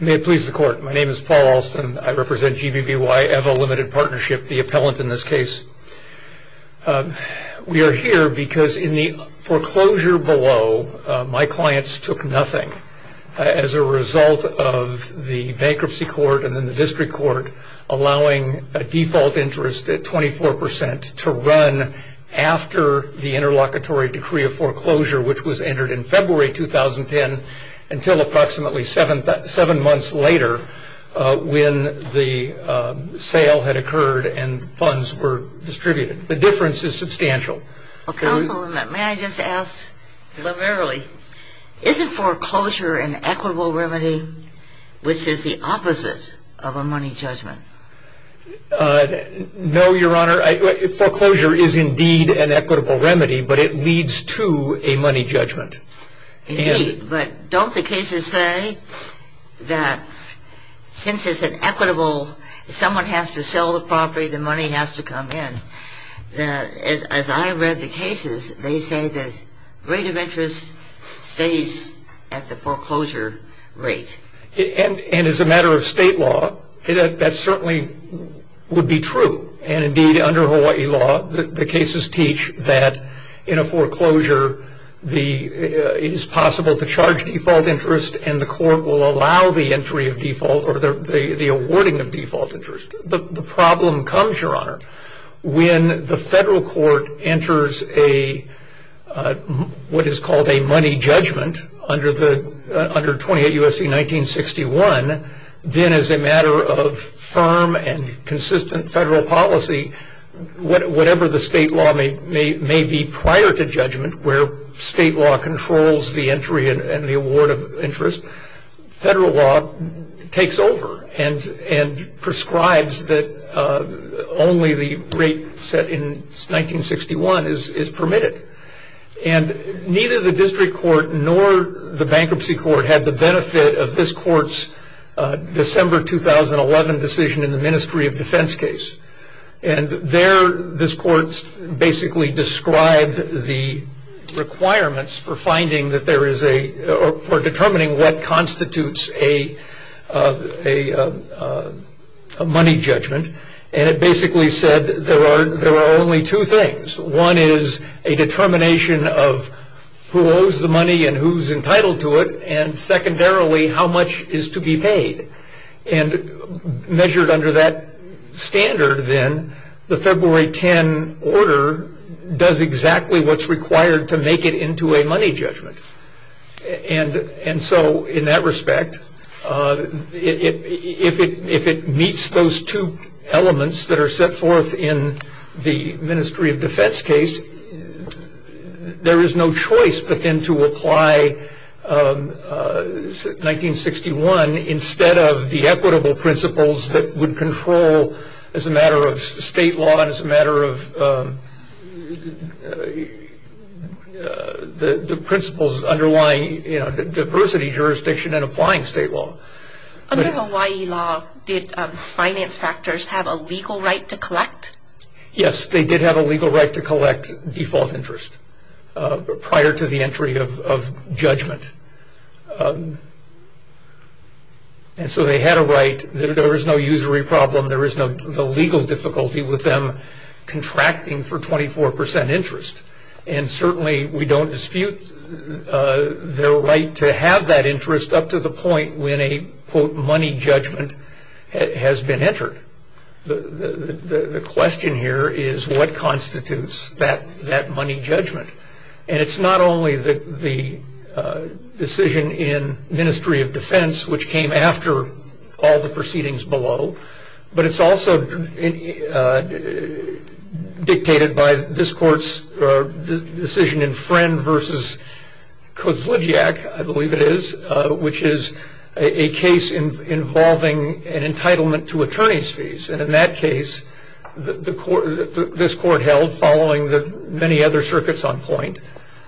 May it please the Court. My name is Paul Alston. I represent GBBY Ewa Limited Partnership, the appellant in this case. We are here because in the foreclosure below, my clients took nothing as a result of the Bankruptcy Court and then the District Court allowing a default interest at 24% to run after the Interlocutory Decree of Foreclosure, which was entered in February 2010 until approximately seven months later when the sale had occurred and funds were distributed. The difference is substantial. Counsel, may I just ask liberally, isn't foreclosure an equitable remedy, which is the opposite of a money judgment? No, Your Honor. Foreclosure is indeed an equitable remedy, but it leads to a money judgment. Indeed, but don't the cases say that since it's an equitable, someone has to sell the property, the money has to come in. As I read the cases, they say the rate of interest stays at the foreclosure rate. And as a matter of state law, that certainly would be true. And indeed, under Hawaii law, the cases teach that in a foreclosure, it is possible to charge default interest and the Court will allow the entry of default or the awarding of default interest. The problem comes, Your Honor, when the federal court enters what is called a money judgment under 28 U.S.C. 1961, then as a matter of firm and consistent federal policy, whatever the state law may be prior to judgment, where state law controls the entry and the award of interest, federal law takes over and prescribes that only the rate set in 1961 is permitted. And neither the district court nor the bankruptcy court had the benefit of this court's December 2011 decision in the Ministry of Defense case. And there, this court basically described the requirements for determining what constitutes a money judgment. And it basically said there are only two things. One is a determination of who owes the money and who's entitled to it. And secondarily, how much is to be paid. And measured under that standard then, the February 10 order does exactly what's required to make it into a money judgment. And so in that respect, if it meets those two elements that are set forth in the Ministry of Defense case, there is no choice but then to apply 1961 instead of the equitable principles that would control as a matter of state law and as a matter of the principles underlying diversity, jurisdiction, and applying state law. Under Hawaii law, did finance factors have a legal right to collect? Yes, they did have a legal right to collect default interest prior to the entry of judgment. And so they had a right, there is no usury problem, there is no legal difficulty with them contracting for 24% interest. And certainly we don't dispute their right to have that interest up to the point when a quote money judgment has been entered. The question here is what constitutes that money judgment. And it's not only the decision in Ministry of Defense which came after all the proceedings below, but it's also dictated by this court's decision in Friend v. Kozludziak, I believe it is, which is a case involving an entitlement to attorney's fees. And in that case, this court held, following the many other circuits on point,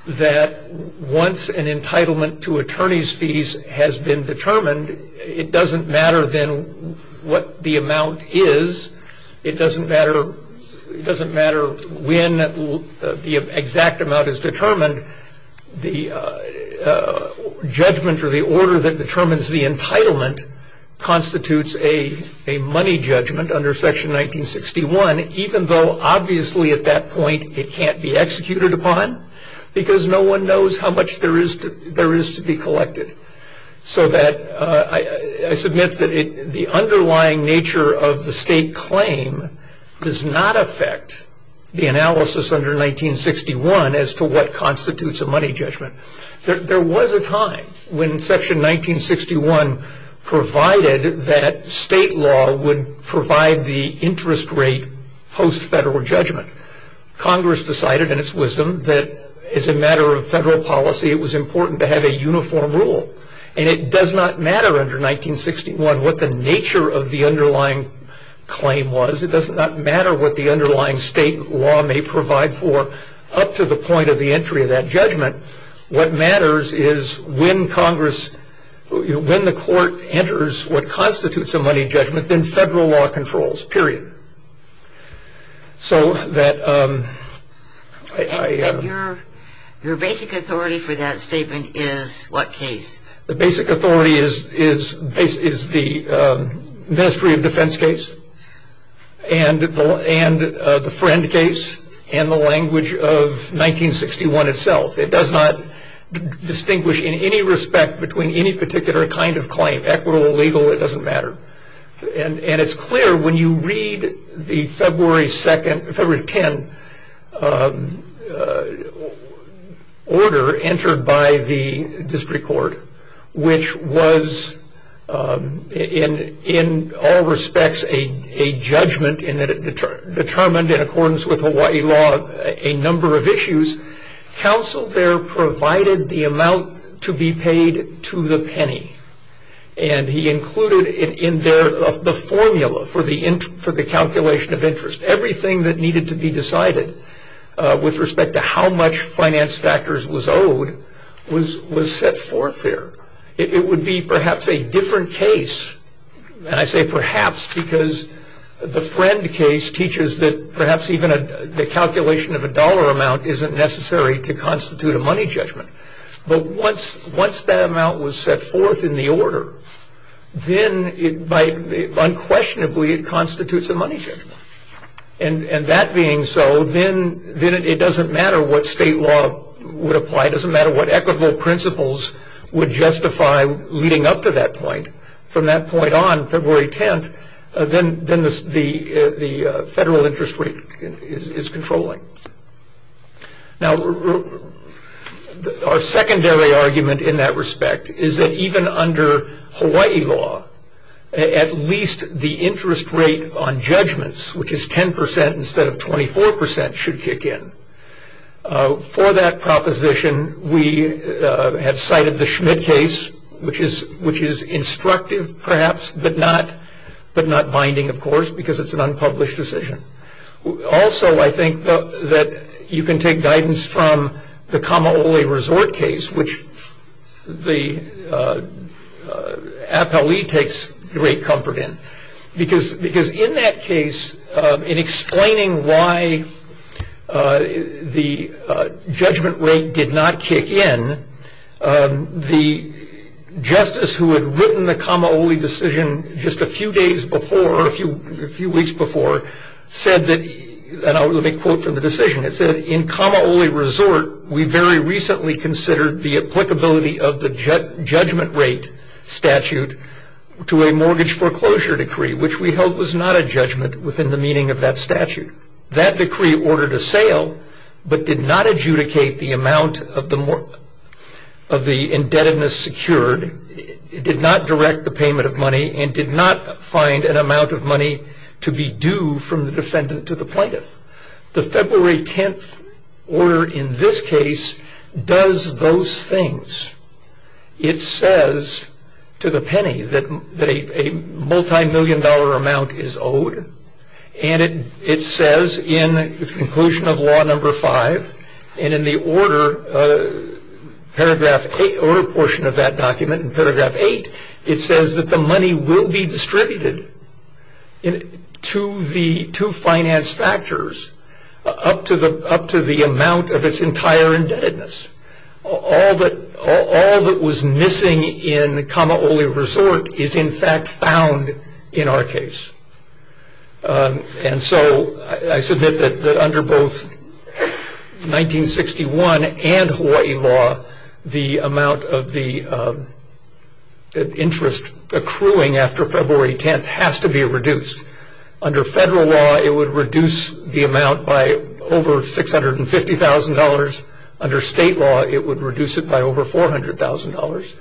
that once an entitlement to attorney's fees has been determined, it doesn't matter then what the amount is, it doesn't matter when the exact amount is determined, the judgment or the order that determines the entitlement constitutes a money judgment under Section 1961, even though obviously at that point it can't be executed upon because no one knows how much there is to be collected. So that I submit that the underlying nature of the state claim does not affect the analysis under 1961 as to what constitutes a money judgment. There was a time when Section 1961 provided that state law would provide the interest rate post-federal judgment. Congress decided in its wisdom that as a matter of federal policy, it was important to have a uniform rule. And it does not matter under 1961 what the nature of the underlying claim was. It does not matter what the underlying state law may provide for up to the point of the entry of that judgment. What matters is when Congress, when the court enters what constitutes a money judgment, then federal law controls, period. Your basic authority for that statement is what case? The basic authority is the Ministry of Defense case and the Friend case and the language of 1961 itself. It does not distinguish in any respect between any particular kind of claim, equitable or legal, it doesn't matter. And it's clear when you read the February 2nd, February 10 order entered by the district court, which was in all respects a judgment in that it determined in accordance with Hawaii law a number of issues. Counsel there provided the amount to be paid to the penny. And he included in there the formula for the calculation of interest. Everything that needed to be decided with respect to how much finance factors was owed was set forth there. It would be perhaps a different case. And I say perhaps because the Friend case teaches that perhaps even the calculation of a dollar amount isn't necessary to constitute a money judgment. But once that amount was set forth in the order, then unquestionably it constitutes a money judgment. And that being so, then it doesn't matter what state law would apply, it doesn't matter what equitable principles would justify leading up to that point. From that point on, February 10th, then the federal interest rate is controlling. Now, our secondary argument in that respect is that even under Hawaii law, at least the interest rate on judgments, which is 10% instead of 24%, should kick in. For that proposition, we have cited the Schmidt case, which is instructive perhaps, but not binding, of course, because it's an unpublished decision. Also, I think that you can take guidance from the Kamaole Resort case, which the appellee takes great comfort in. Because in that case, in explaining why the judgment rate did not kick in, the justice who had written the Kamaole decision just a few days before, or a few weeks before, said that, and I'll make a quote from the decision, it said, And in Kamaole Resort, we very recently considered the applicability of the judgment rate statute to a mortgage foreclosure decree, which we held was not a judgment within the meaning of that statute. That decree ordered a sale, but did not adjudicate the amount of the indebtedness secured, did not direct the payment of money, and did not find an amount of money to be due from the defendant to the plaintiff. The February 10th order in this case does those things. It says to the penny that a multi-million dollar amount is owed, and it says in the conclusion of Law No. 5, and in the order portion of that document in paragraph 8, it says that the money will be distributed to finance factors up to the amount of its entire indebtedness. All that was missing in Kamaole Resort is in fact found in our case. And so I submit that under both 1961 and Hawaii law, the amount of the interest accruing after February 10th has to be reduced. Under federal law, it would reduce the amount by over $650,000. Under state law, it would reduce it by over $400,000.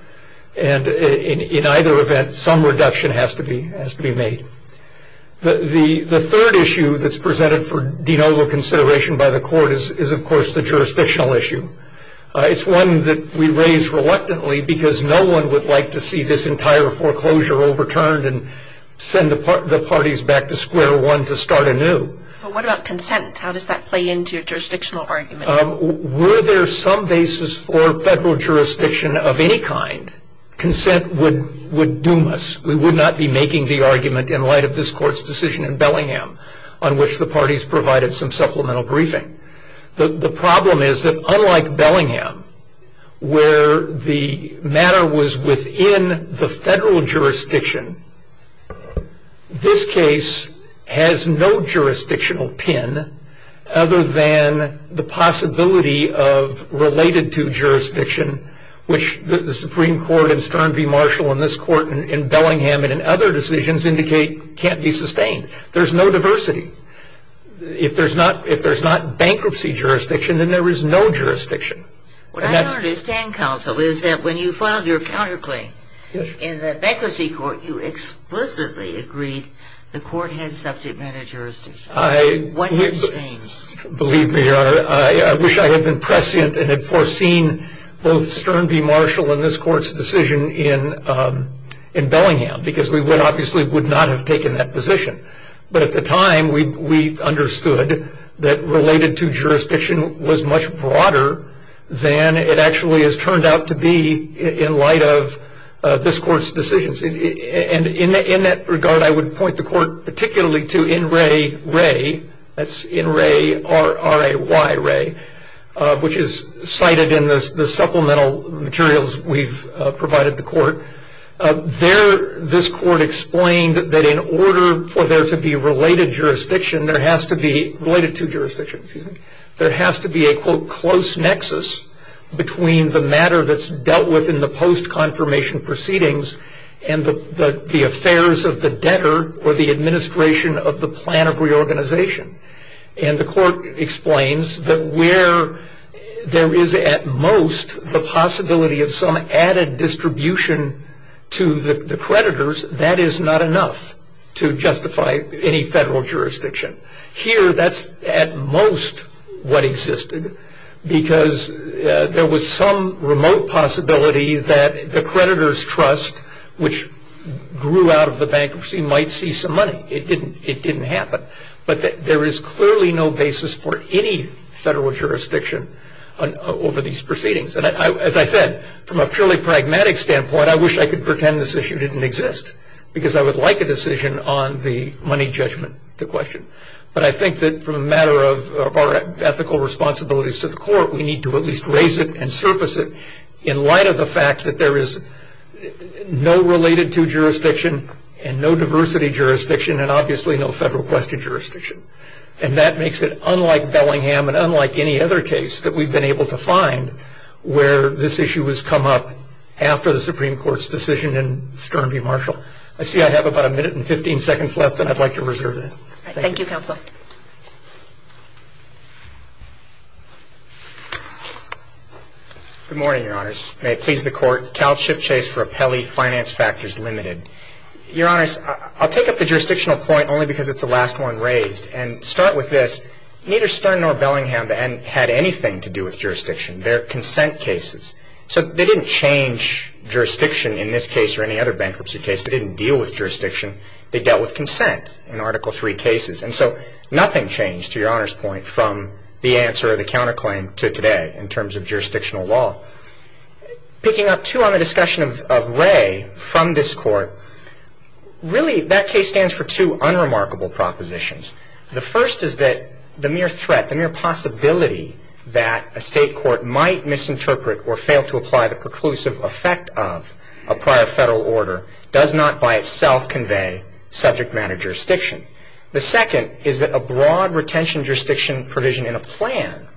And in either event, some reduction has to be made. The third issue that's presented for denoble consideration by the court is, of course, the jurisdictional issue. It's one that we raise reluctantly because no one would like to see this entire foreclosure overturned and send the parties back to square one to start anew. But what about consent? How does that play into your jurisdictional argument? Were there some basis for federal jurisdiction of any kind, consent would doom us. We would not be making the argument in light of this court's decision in Bellingham on which the parties provided some supplemental briefing. The problem is that unlike Bellingham, where the matter was within the federal jurisdiction, this case has no jurisdictional pin other than the possibility of related to jurisdiction, which the Supreme Court in Stern v. Marshall and this court in Bellingham and in other decisions indicate can't be sustained. There's no diversity. If there's not bankruptcy jurisdiction, then there is no jurisdiction. What I don't understand, counsel, is that when you filed your counterclaim, in the bankruptcy court, you explicitly agreed the court had subject matter jurisdiction. What has changed? Believe me, Your Honor, I wish I had been prescient and had foreseen both Stern v. Marshall and this court's decision in Bellingham because we obviously would not have taken that position. But at the time, we understood that related to jurisdiction was much broader than it actually has turned out to be in light of this court's decisions. And in that regard, I would point the court particularly to NRAY, that's N-R-A-Y, which is cited in the supplemental materials we've provided the court. There, this court explained that in order for there to be related jurisdiction, there has to be, related to jurisdiction, excuse me, there has to be a, quote, close nexus between the matter that's dealt with in the post-confirmation proceedings and the affairs of the debtor or the administration of the plan of reorganization. And the court explains that where there is, at most, the possibility of some added distribution to the creditors, that is not enough to justify any federal jurisdiction. Here, that's, at most, what existed because there was some remote possibility that the creditors' trust, which grew out of the bankruptcy, might see some money. It didn't happen. But there is clearly no basis for any federal jurisdiction over these proceedings. And as I said, from a purely pragmatic standpoint, I wish I could pretend this issue didn't exist because I would like a decision on the money judgment to question. But I think that from a matter of our ethical responsibilities to the court, we need to at least raise it and surface it in light of the fact that there is no related to jurisdiction and no diversity jurisdiction and obviously no federal question jurisdiction. And that makes it unlike Bellingham and unlike any other case that we've been able to find where this issue has come up after the Supreme Court's decision in Stern v. Marshall. I see I have about a minute and 15 seconds left, and I'd like to reserve it. Thank you, Counsel. Good morning, Your Honors. May it please the Court. Cal Chip Chase for Appellee, Finance Factors Limited. Your Honors, I'll take up the jurisdictional point only because it's the last one raised. And to start with this, neither Stern nor Bellingham had anything to do with jurisdiction. They're consent cases. So they didn't change jurisdiction in this case or any other bankruptcy case. They didn't deal with jurisdiction. They dealt with consent in Article III cases. And so nothing changed, to Your Honors' point, from the answer or the counterclaim to today in terms of jurisdictional law. Picking up, too, on the discussion of Wray from this Court, really that case stands for two unremarkable propositions. The first is that the mere threat, the mere possibility that a State court might misinterpret or fail to apply the preclusive effect of a prior Federal order does not by itself convey subject matter jurisdiction. The second is that a broad retention jurisdiction provision in a plan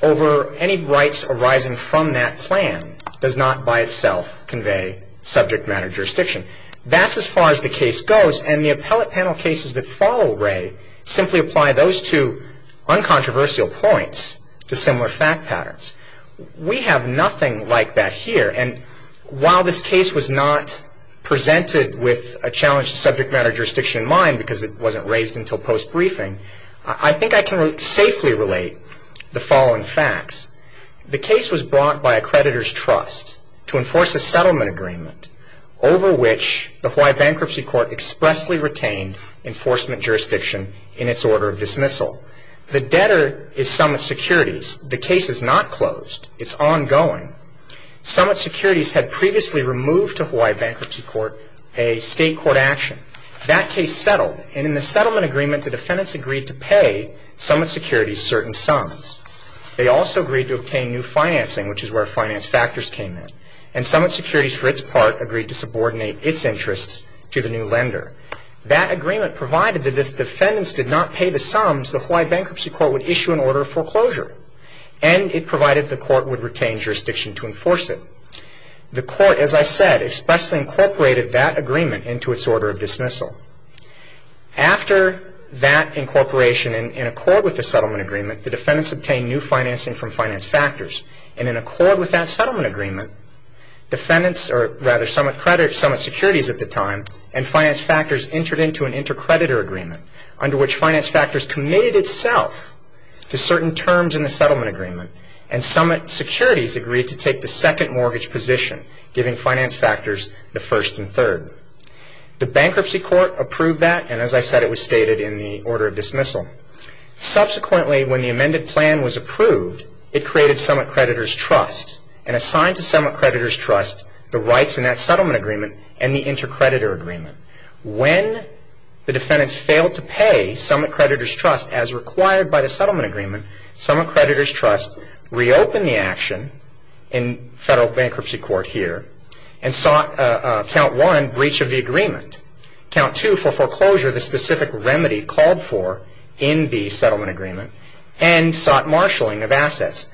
over any rights arising from that plan does not by itself convey subject matter jurisdiction. That's as far as the case goes, and the appellate panel cases that follow Wray simply apply those two uncontroversial points to similar fact patterns. We have nothing like that here. And while this case was not presented with a challenge to subject matter jurisdiction in mind because it wasn't raised until post-briefing, I think I can safely relate the following facts. The case was brought by a creditor's trust to enforce a settlement agreement over which the Hawaii Bankruptcy Court expressly retained enforcement jurisdiction in its order of dismissal. The debtor is Summit Securities. The case is not closed. It's ongoing. Summit Securities had previously removed to Hawaii Bankruptcy Court a State court action. That case settled, and in the settlement agreement, the defendants agreed to pay Summit Securities certain sums. They also agreed to obtain new financing, which is where finance factors came in, and Summit Securities, for its part, agreed to subordinate its interests to the new lender. That agreement provided that if defendants did not pay the sums, the Hawaii Bankruptcy Court would issue an order of foreclosure, and it provided the court would retain jurisdiction to enforce it. The court, as I said, expressly incorporated that agreement into its order of dismissal. After that incorporation, in accord with the settlement agreement, the defendants obtained new financing from finance factors, and in accord with that settlement agreement, defendants or rather Summit Securities at the time and finance factors entered into an intercreditor agreement under which finance factors committed itself to certain terms in the settlement agreement, and Summit Securities agreed to take the second mortgage position, giving finance factors the first and third. The Bankruptcy Court approved that, and as I said, it was stated in the order of dismissal. Subsequently, when the amended plan was approved, it created Summit Creditors' Trust and assigned to Summit Creditors' Trust the rights in that settlement agreement and the intercreditor agreement. When the defendants failed to pay Summit Creditors' Trust as required by the settlement agreement, Summit Creditors' Trust reopened the action in Federal Bankruptcy Court here and sought, count one, breach of the agreement. Count two, for foreclosure, the specific remedy called for in the settlement agreement and sought marshalling of assets.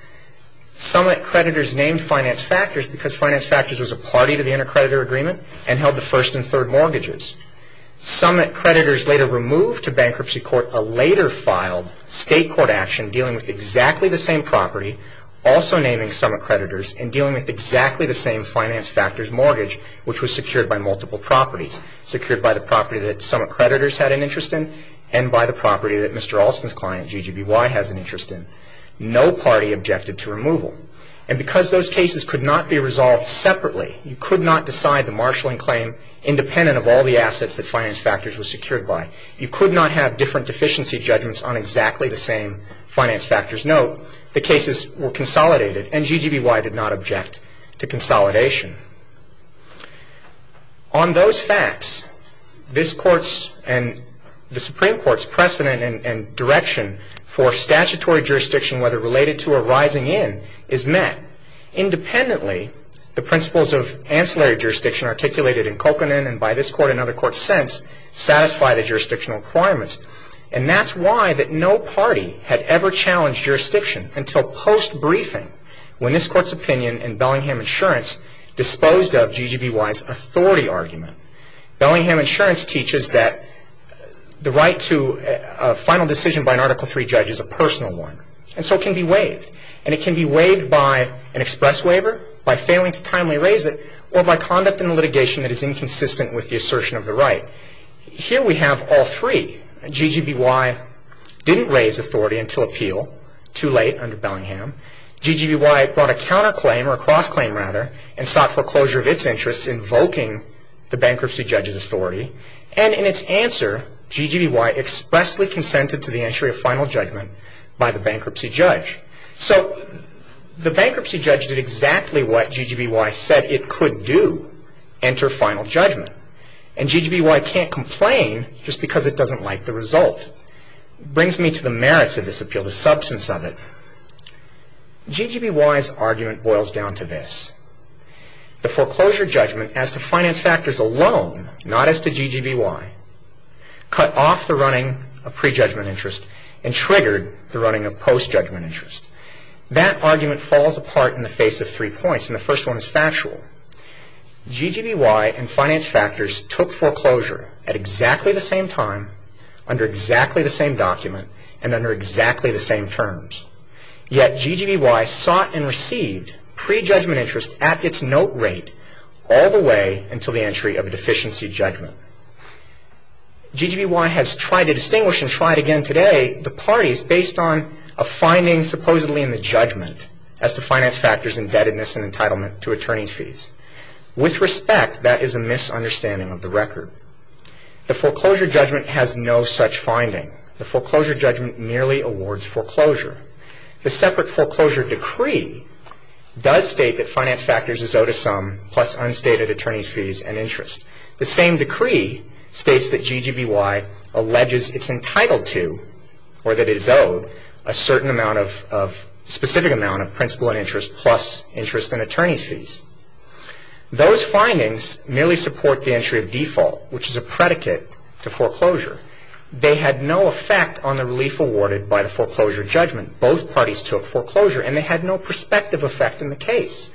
Summit Creditors named finance factors because finance factors was a party to the intercreditor agreement and held the first and third mortgages. Summit Creditors later removed to Bankruptcy Court a later filed state court action dealing with exactly the same property, also naming Summit Creditors, and dealing with exactly the same finance factors mortgage which was secured by multiple properties. Secured by the property that Summit Creditors had an interest in and by the property that Mr. Alston's client, GGBY, has an interest in. No party objected to removal. And because those cases could not be resolved separately, you could not decide the marshalling claim independent of all the assets that finance factors were secured by. You could not have different deficiency judgments on exactly the same finance factors. Note, the cases were consolidated and GGBY did not object to consolidation. On those facts, this Court's and the Supreme Court's precedent and direction for statutory jurisdiction, whether related to or rising in, is met. Independently, the principles of ancillary jurisdiction articulated in Cochran and by this Court and other courts since satisfy the jurisdictional requirements. And that's why that no party had ever challenged jurisdiction until post-briefing when this Court's opinion in Bellingham Insurance disposed of GGBY's authority argument. Bellingham Insurance teaches that the right to a final decision by an Article III judge is a personal one. And so it can be waived. And it can be waived by an express waiver, by failing to timely raise it, or by conduct in the litigation that is inconsistent with the assertion of the right. Here we have all three. GGBY didn't raise authority until appeal, too late under Bellingham. GGBY brought a counterclaim, or a cross-claim rather, and sought foreclosure of its interests invoking the bankruptcy judge's authority. And in its answer, GGBY expressly consented to the entry of final judgment by the bankruptcy judge. So the bankruptcy judge did exactly what GGBY said it could do, enter final judgment. And GGBY can't complain just because it doesn't like the result. It brings me to the merits of this appeal, the substance of it. GGBY's argument boils down to this. The foreclosure judgment as to finance factors alone, not as to GGBY, cut off the running of pre-judgment interest and triggered the running of post-judgment interest. That argument falls apart in the face of three points, and the first one is factual. GGBY and finance factors took foreclosure at exactly the same time, under exactly the same document, and under exactly the same terms. Yet GGBY sought and received pre-judgment interest at its note rate all the way until the entry of a deficiency judgment. GGBY has tried to distinguish and try it again today, the parties based on a finding supposedly in the judgment as to finance factors indebtedness and entitlement to attorney's fees. With respect, that is a misunderstanding of the record. The foreclosure judgment has no such finding. The foreclosure judgment merely awards foreclosure. The separate foreclosure decree does state that finance factors is owed a sum plus unstated attorney's fees and interest. The same decree states that GGBY alleges it's entitled to or that it is owed a specific amount of principal and interest plus interest and attorney's fees. Those findings merely support the entry of default, which is a predicate to foreclosure. They had no effect on the relief awarded by the foreclosure judgment. Both parties took foreclosure, and they had no prospective effect in the case.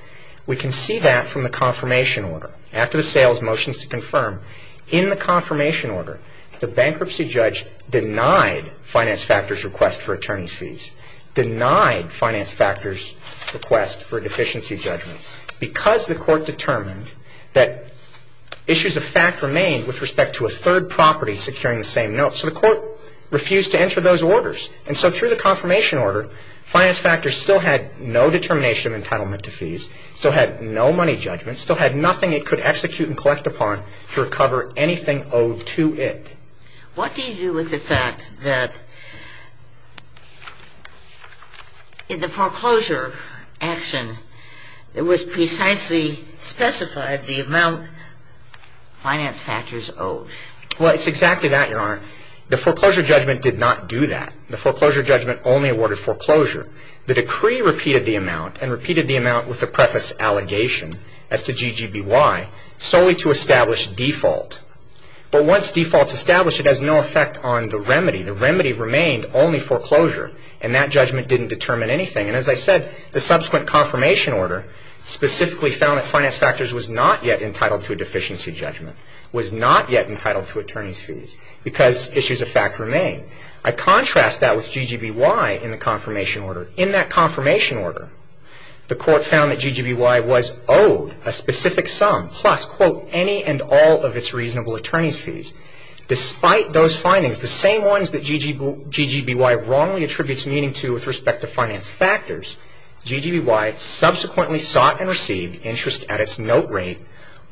We can see that from the confirmation order. After the sales motions to confirm, in the confirmation order, the bankruptcy judge denied finance factors' request for attorney's fees, denied finance factors' request for a deficiency judgment, because the court determined that issues of fact remained with respect to a third property securing the same note. So the court refused to enter those orders. And so through the confirmation order, finance factors still had no determination of entitlement to fees, still had no money judgment, and still had nothing it could execute and collect upon to recover anything owed to it. What do you do with the fact that in the foreclosure action, it was precisely specified the amount finance factors owed? Well, it's exactly that, Your Honor. The foreclosure judgment did not do that. The foreclosure judgment only awarded foreclosure. The decree repeated the amount and repeated the amount with the preface allegation as to GGBY solely to establish default. But once default is established, it has no effect on the remedy. The remedy remained only foreclosure, and that judgment didn't determine anything. And as I said, the subsequent confirmation order specifically found that finance factors was not yet entitled to a deficiency judgment, was not yet entitled to attorney's fees, because issues of fact remained. I contrast that with GGBY in the confirmation order. In that confirmation order, the court found that GGBY was owed a specific sum plus, quote, any and all of its reasonable attorney's fees. Despite those findings, the same ones that GGBY wrongly attributes meaning to with respect to finance factors, GGBY subsequently sought and received interest at its note rate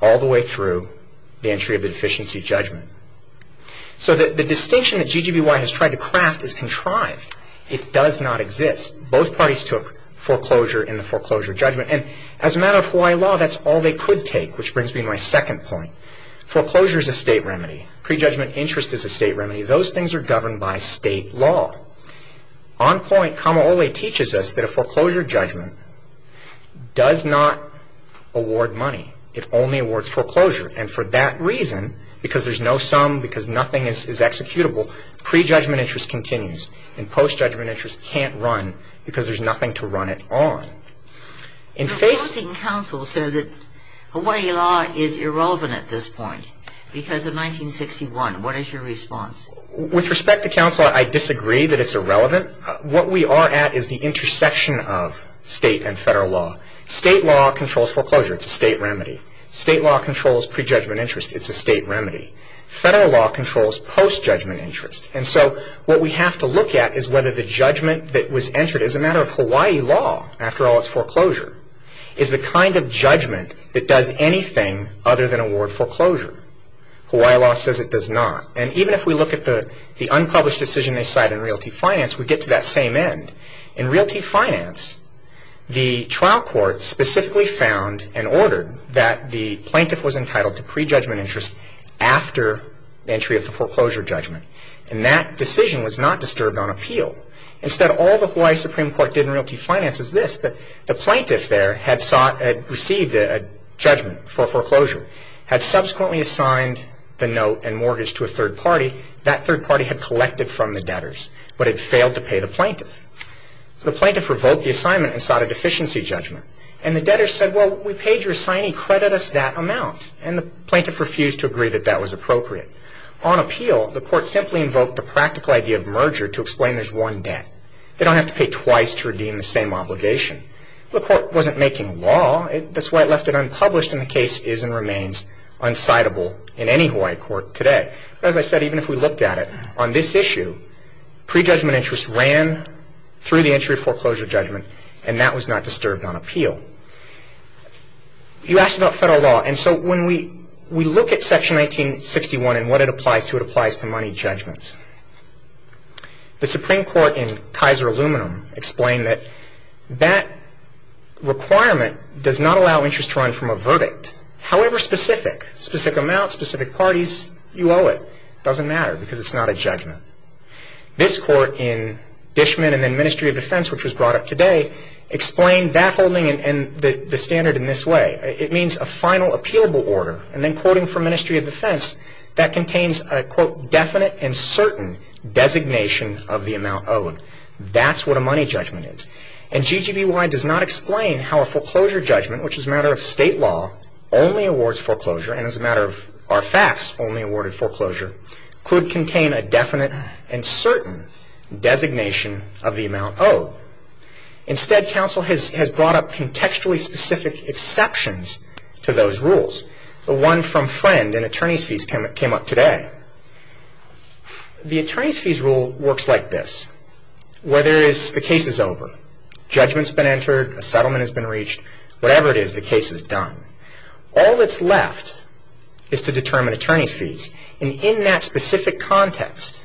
all the way through the entry of the deficiency judgment. So the distinction that GGBY has tried to craft is contrived. It does not exist. Both parties took foreclosure in the foreclosure judgment. And as a matter of Hawaii law, that's all they could take, which brings me to my second point. Foreclosure is a state remedy. Prejudgment interest is a state remedy. Those things are governed by state law. On point, Kamaole teaches us that a foreclosure judgment does not award money. It only awards foreclosure. And for that reason, because there's no sum, because nothing is executable, prejudgment interest continues. And postjudgment interest can't run because there's nothing to run it on. Your opposing counsel said that Hawaii law is irrelevant at this point because of 1961. What is your response? With respect to counsel, I disagree that it's irrelevant. What we are at is the intersection of state and federal law. State law controls foreclosure. It's a state remedy. State law controls prejudgment interest. It's a state remedy. Federal law controls postjudgment interest. And so what we have to look at is whether the judgment that was entered as a matter of Hawaii law, after all it's foreclosure, is the kind of judgment that does anything other than award foreclosure. Hawaii law says it does not. And even if we look at the unpublished decision they cite in Realty Finance, we get to that same end. In Realty Finance, the trial court specifically found and ordered that the plaintiff was entitled to after entry of the foreclosure judgment. And that decision was not disturbed on appeal. Instead, all the Hawaii Supreme Court did in Realty Finance is this, that the plaintiff there had sought and received a judgment for foreclosure, had subsequently assigned the note and mortgage to a third party. That third party had collected from the debtors, but had failed to pay the plaintiff. The plaintiff revoked the assignment and sought a deficiency judgment. And the debtor said, well, we paid your assignee. Credit us that amount. And the plaintiff refused to agree that that was appropriate. On appeal, the court simply invoked the practical idea of merger to explain there's one debt. They don't have to pay twice to redeem the same obligation. The court wasn't making law. That's why it left it unpublished. And the case is and remains unscindable in any Hawaii court today. But as I said, even if we looked at it, on this issue, prejudgment interest ran through the entry of foreclosure judgment. And that was not disturbed on appeal. You asked about federal law. And so when we look at Section 1961 and what it applies to, it applies to money judgments. The Supreme Court in Kaiser Aluminum explained that that requirement does not allow interest to run from a verdict. However specific, specific amounts, specific parties, you owe it. It doesn't matter because it's not a judgment. This court in Dishman and then Ministry of Defense, which was brought up today, explained that holding and the standard in this way. It means a final appealable order. And then quoting from Ministry of Defense, that contains a, quote, definite and certain designation of the amount owed. That's what a money judgment is. And GGBY does not explain how a foreclosure judgment, which as a matter of state law only awards foreclosure and as a matter of our facts only awarded foreclosure, could contain a definite and certain designation of the amount owed. Instead, counsel has brought up contextually specific exceptions to those rules. The one from Friend in attorney's fees came up today. The attorney's fees rule works like this. Where there is, the case is over. Judgment's been entered. A settlement has been reached. Whatever it is, the case is done. All that's left is to determine attorney's fees. And in that specific context,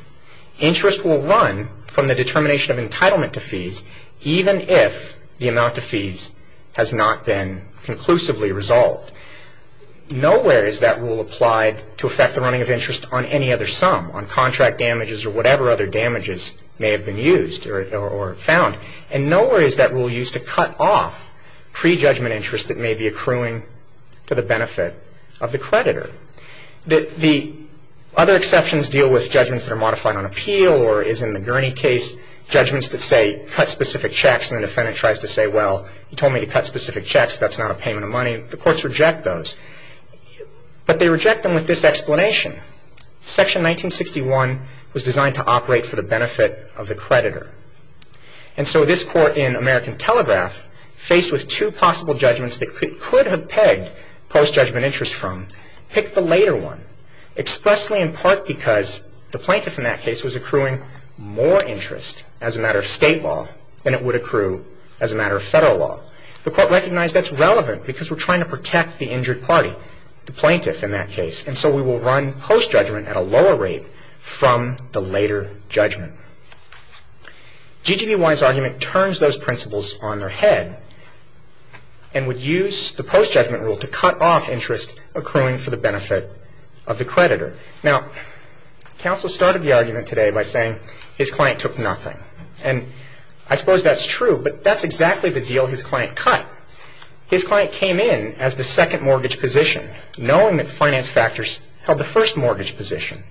interest will run from the determination of entitlement to fees, even if the amount to fees has not been conclusively resolved. Nowhere is that rule applied to affect the running of interest on any other sum, on contract damages or whatever other damages may have been used or found. And nowhere is that rule used to cut off pre-judgment interest that may be accruing to the benefit of the creditor. The other exceptions deal with judgments that are modified on appeal or is in the Gurney case judgments that say cut specific checks and the defendant tries to say, well, you told me to cut specific checks. That's not a payment of money. The courts reject those. But they reject them with this explanation. Section 1961 was designed to operate for the benefit of the creditor. And so this court in American Telegraph, faced with two possible judgments that could have pegged post-judgment interest from, picked the later one expressly in part because the plaintiff in that case was accruing more interest as a matter of state law than it would accrue as a matter of federal law. The court recognized that's relevant because we're trying to protect the injured party, the plaintiff in that case. And so we will run post-judgment at a lower rate from the later judgment. GGBY's argument turns those principles on their head and would use the post-judgment rule to cut off interest accruing for the benefit of the creditor. Now, counsel started the argument today by saying his client took nothing. And I suppose that's true, but that's exactly the deal his client cut. His client came in as the second mortgage position, knowing that finance factors held the first mortgage position.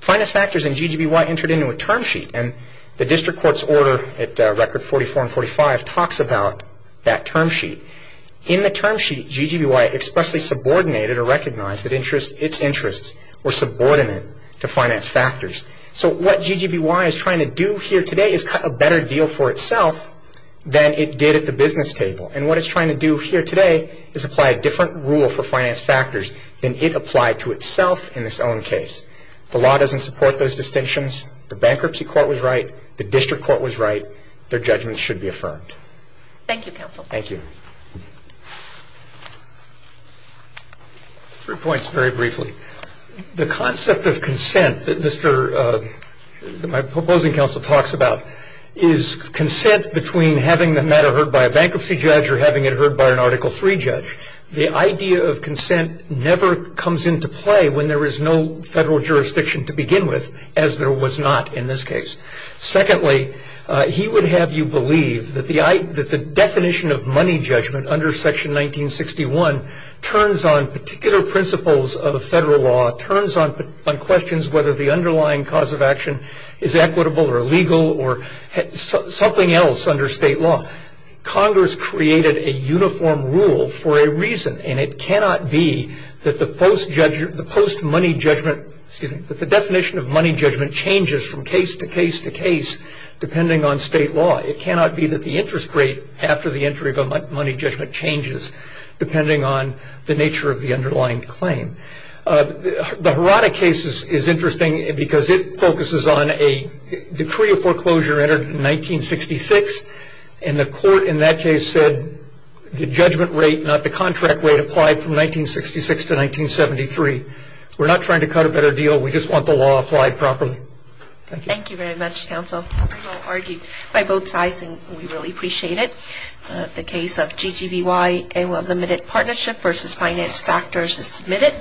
Finance factors and GGBY entered into a term sheet, and the district court's order at Record 44 and 45 talks about that term sheet. In the term sheet, GGBY expressly subordinated or recognized that its interests were subordinate to finance factors. So what GGBY is trying to do here today is cut a better deal for itself than it did at the business table. And what it's trying to do here today is apply a different rule for finance factors than it applied to itself in its own case. The law doesn't support those distinctions. The bankruptcy court was right. The district court was right. Their judgment should be affirmed. Thank you, counsel. Thank you. Three points very briefly. The concept of consent that my proposing counsel talks about is consent between having the matter heard by a bankruptcy judge or having it heard by an Article III judge. The idea of consent never comes into play when there is no federal jurisdiction to begin with, as there was not in this case. Secondly, he would have you believe that the definition of money judgment under Section 1961 turns on particular principles of federal law, turns on questions whether the underlying cause of action is equitable or legal or something else under state law. Congress created a uniform rule for a reason, and it cannot be that the definition of money judgment changes from case to case to case depending on state law. It cannot be that the interest rate after the entry of a money judgment changes depending on the nature of the underlying claim. The Hirata case is interesting because it focuses on a decree of foreclosure entered in 1966, and the court in that case said the judgment rate, not the contract rate, applied from 1966 to 1973. We're not trying to cut a better deal. We just want the law applied properly. Thank you. Thank you very much, counsel. I will argue by both sides, and we really appreciate it. The case of GGBYA Limited Partnership v. Finance Factors is submitted.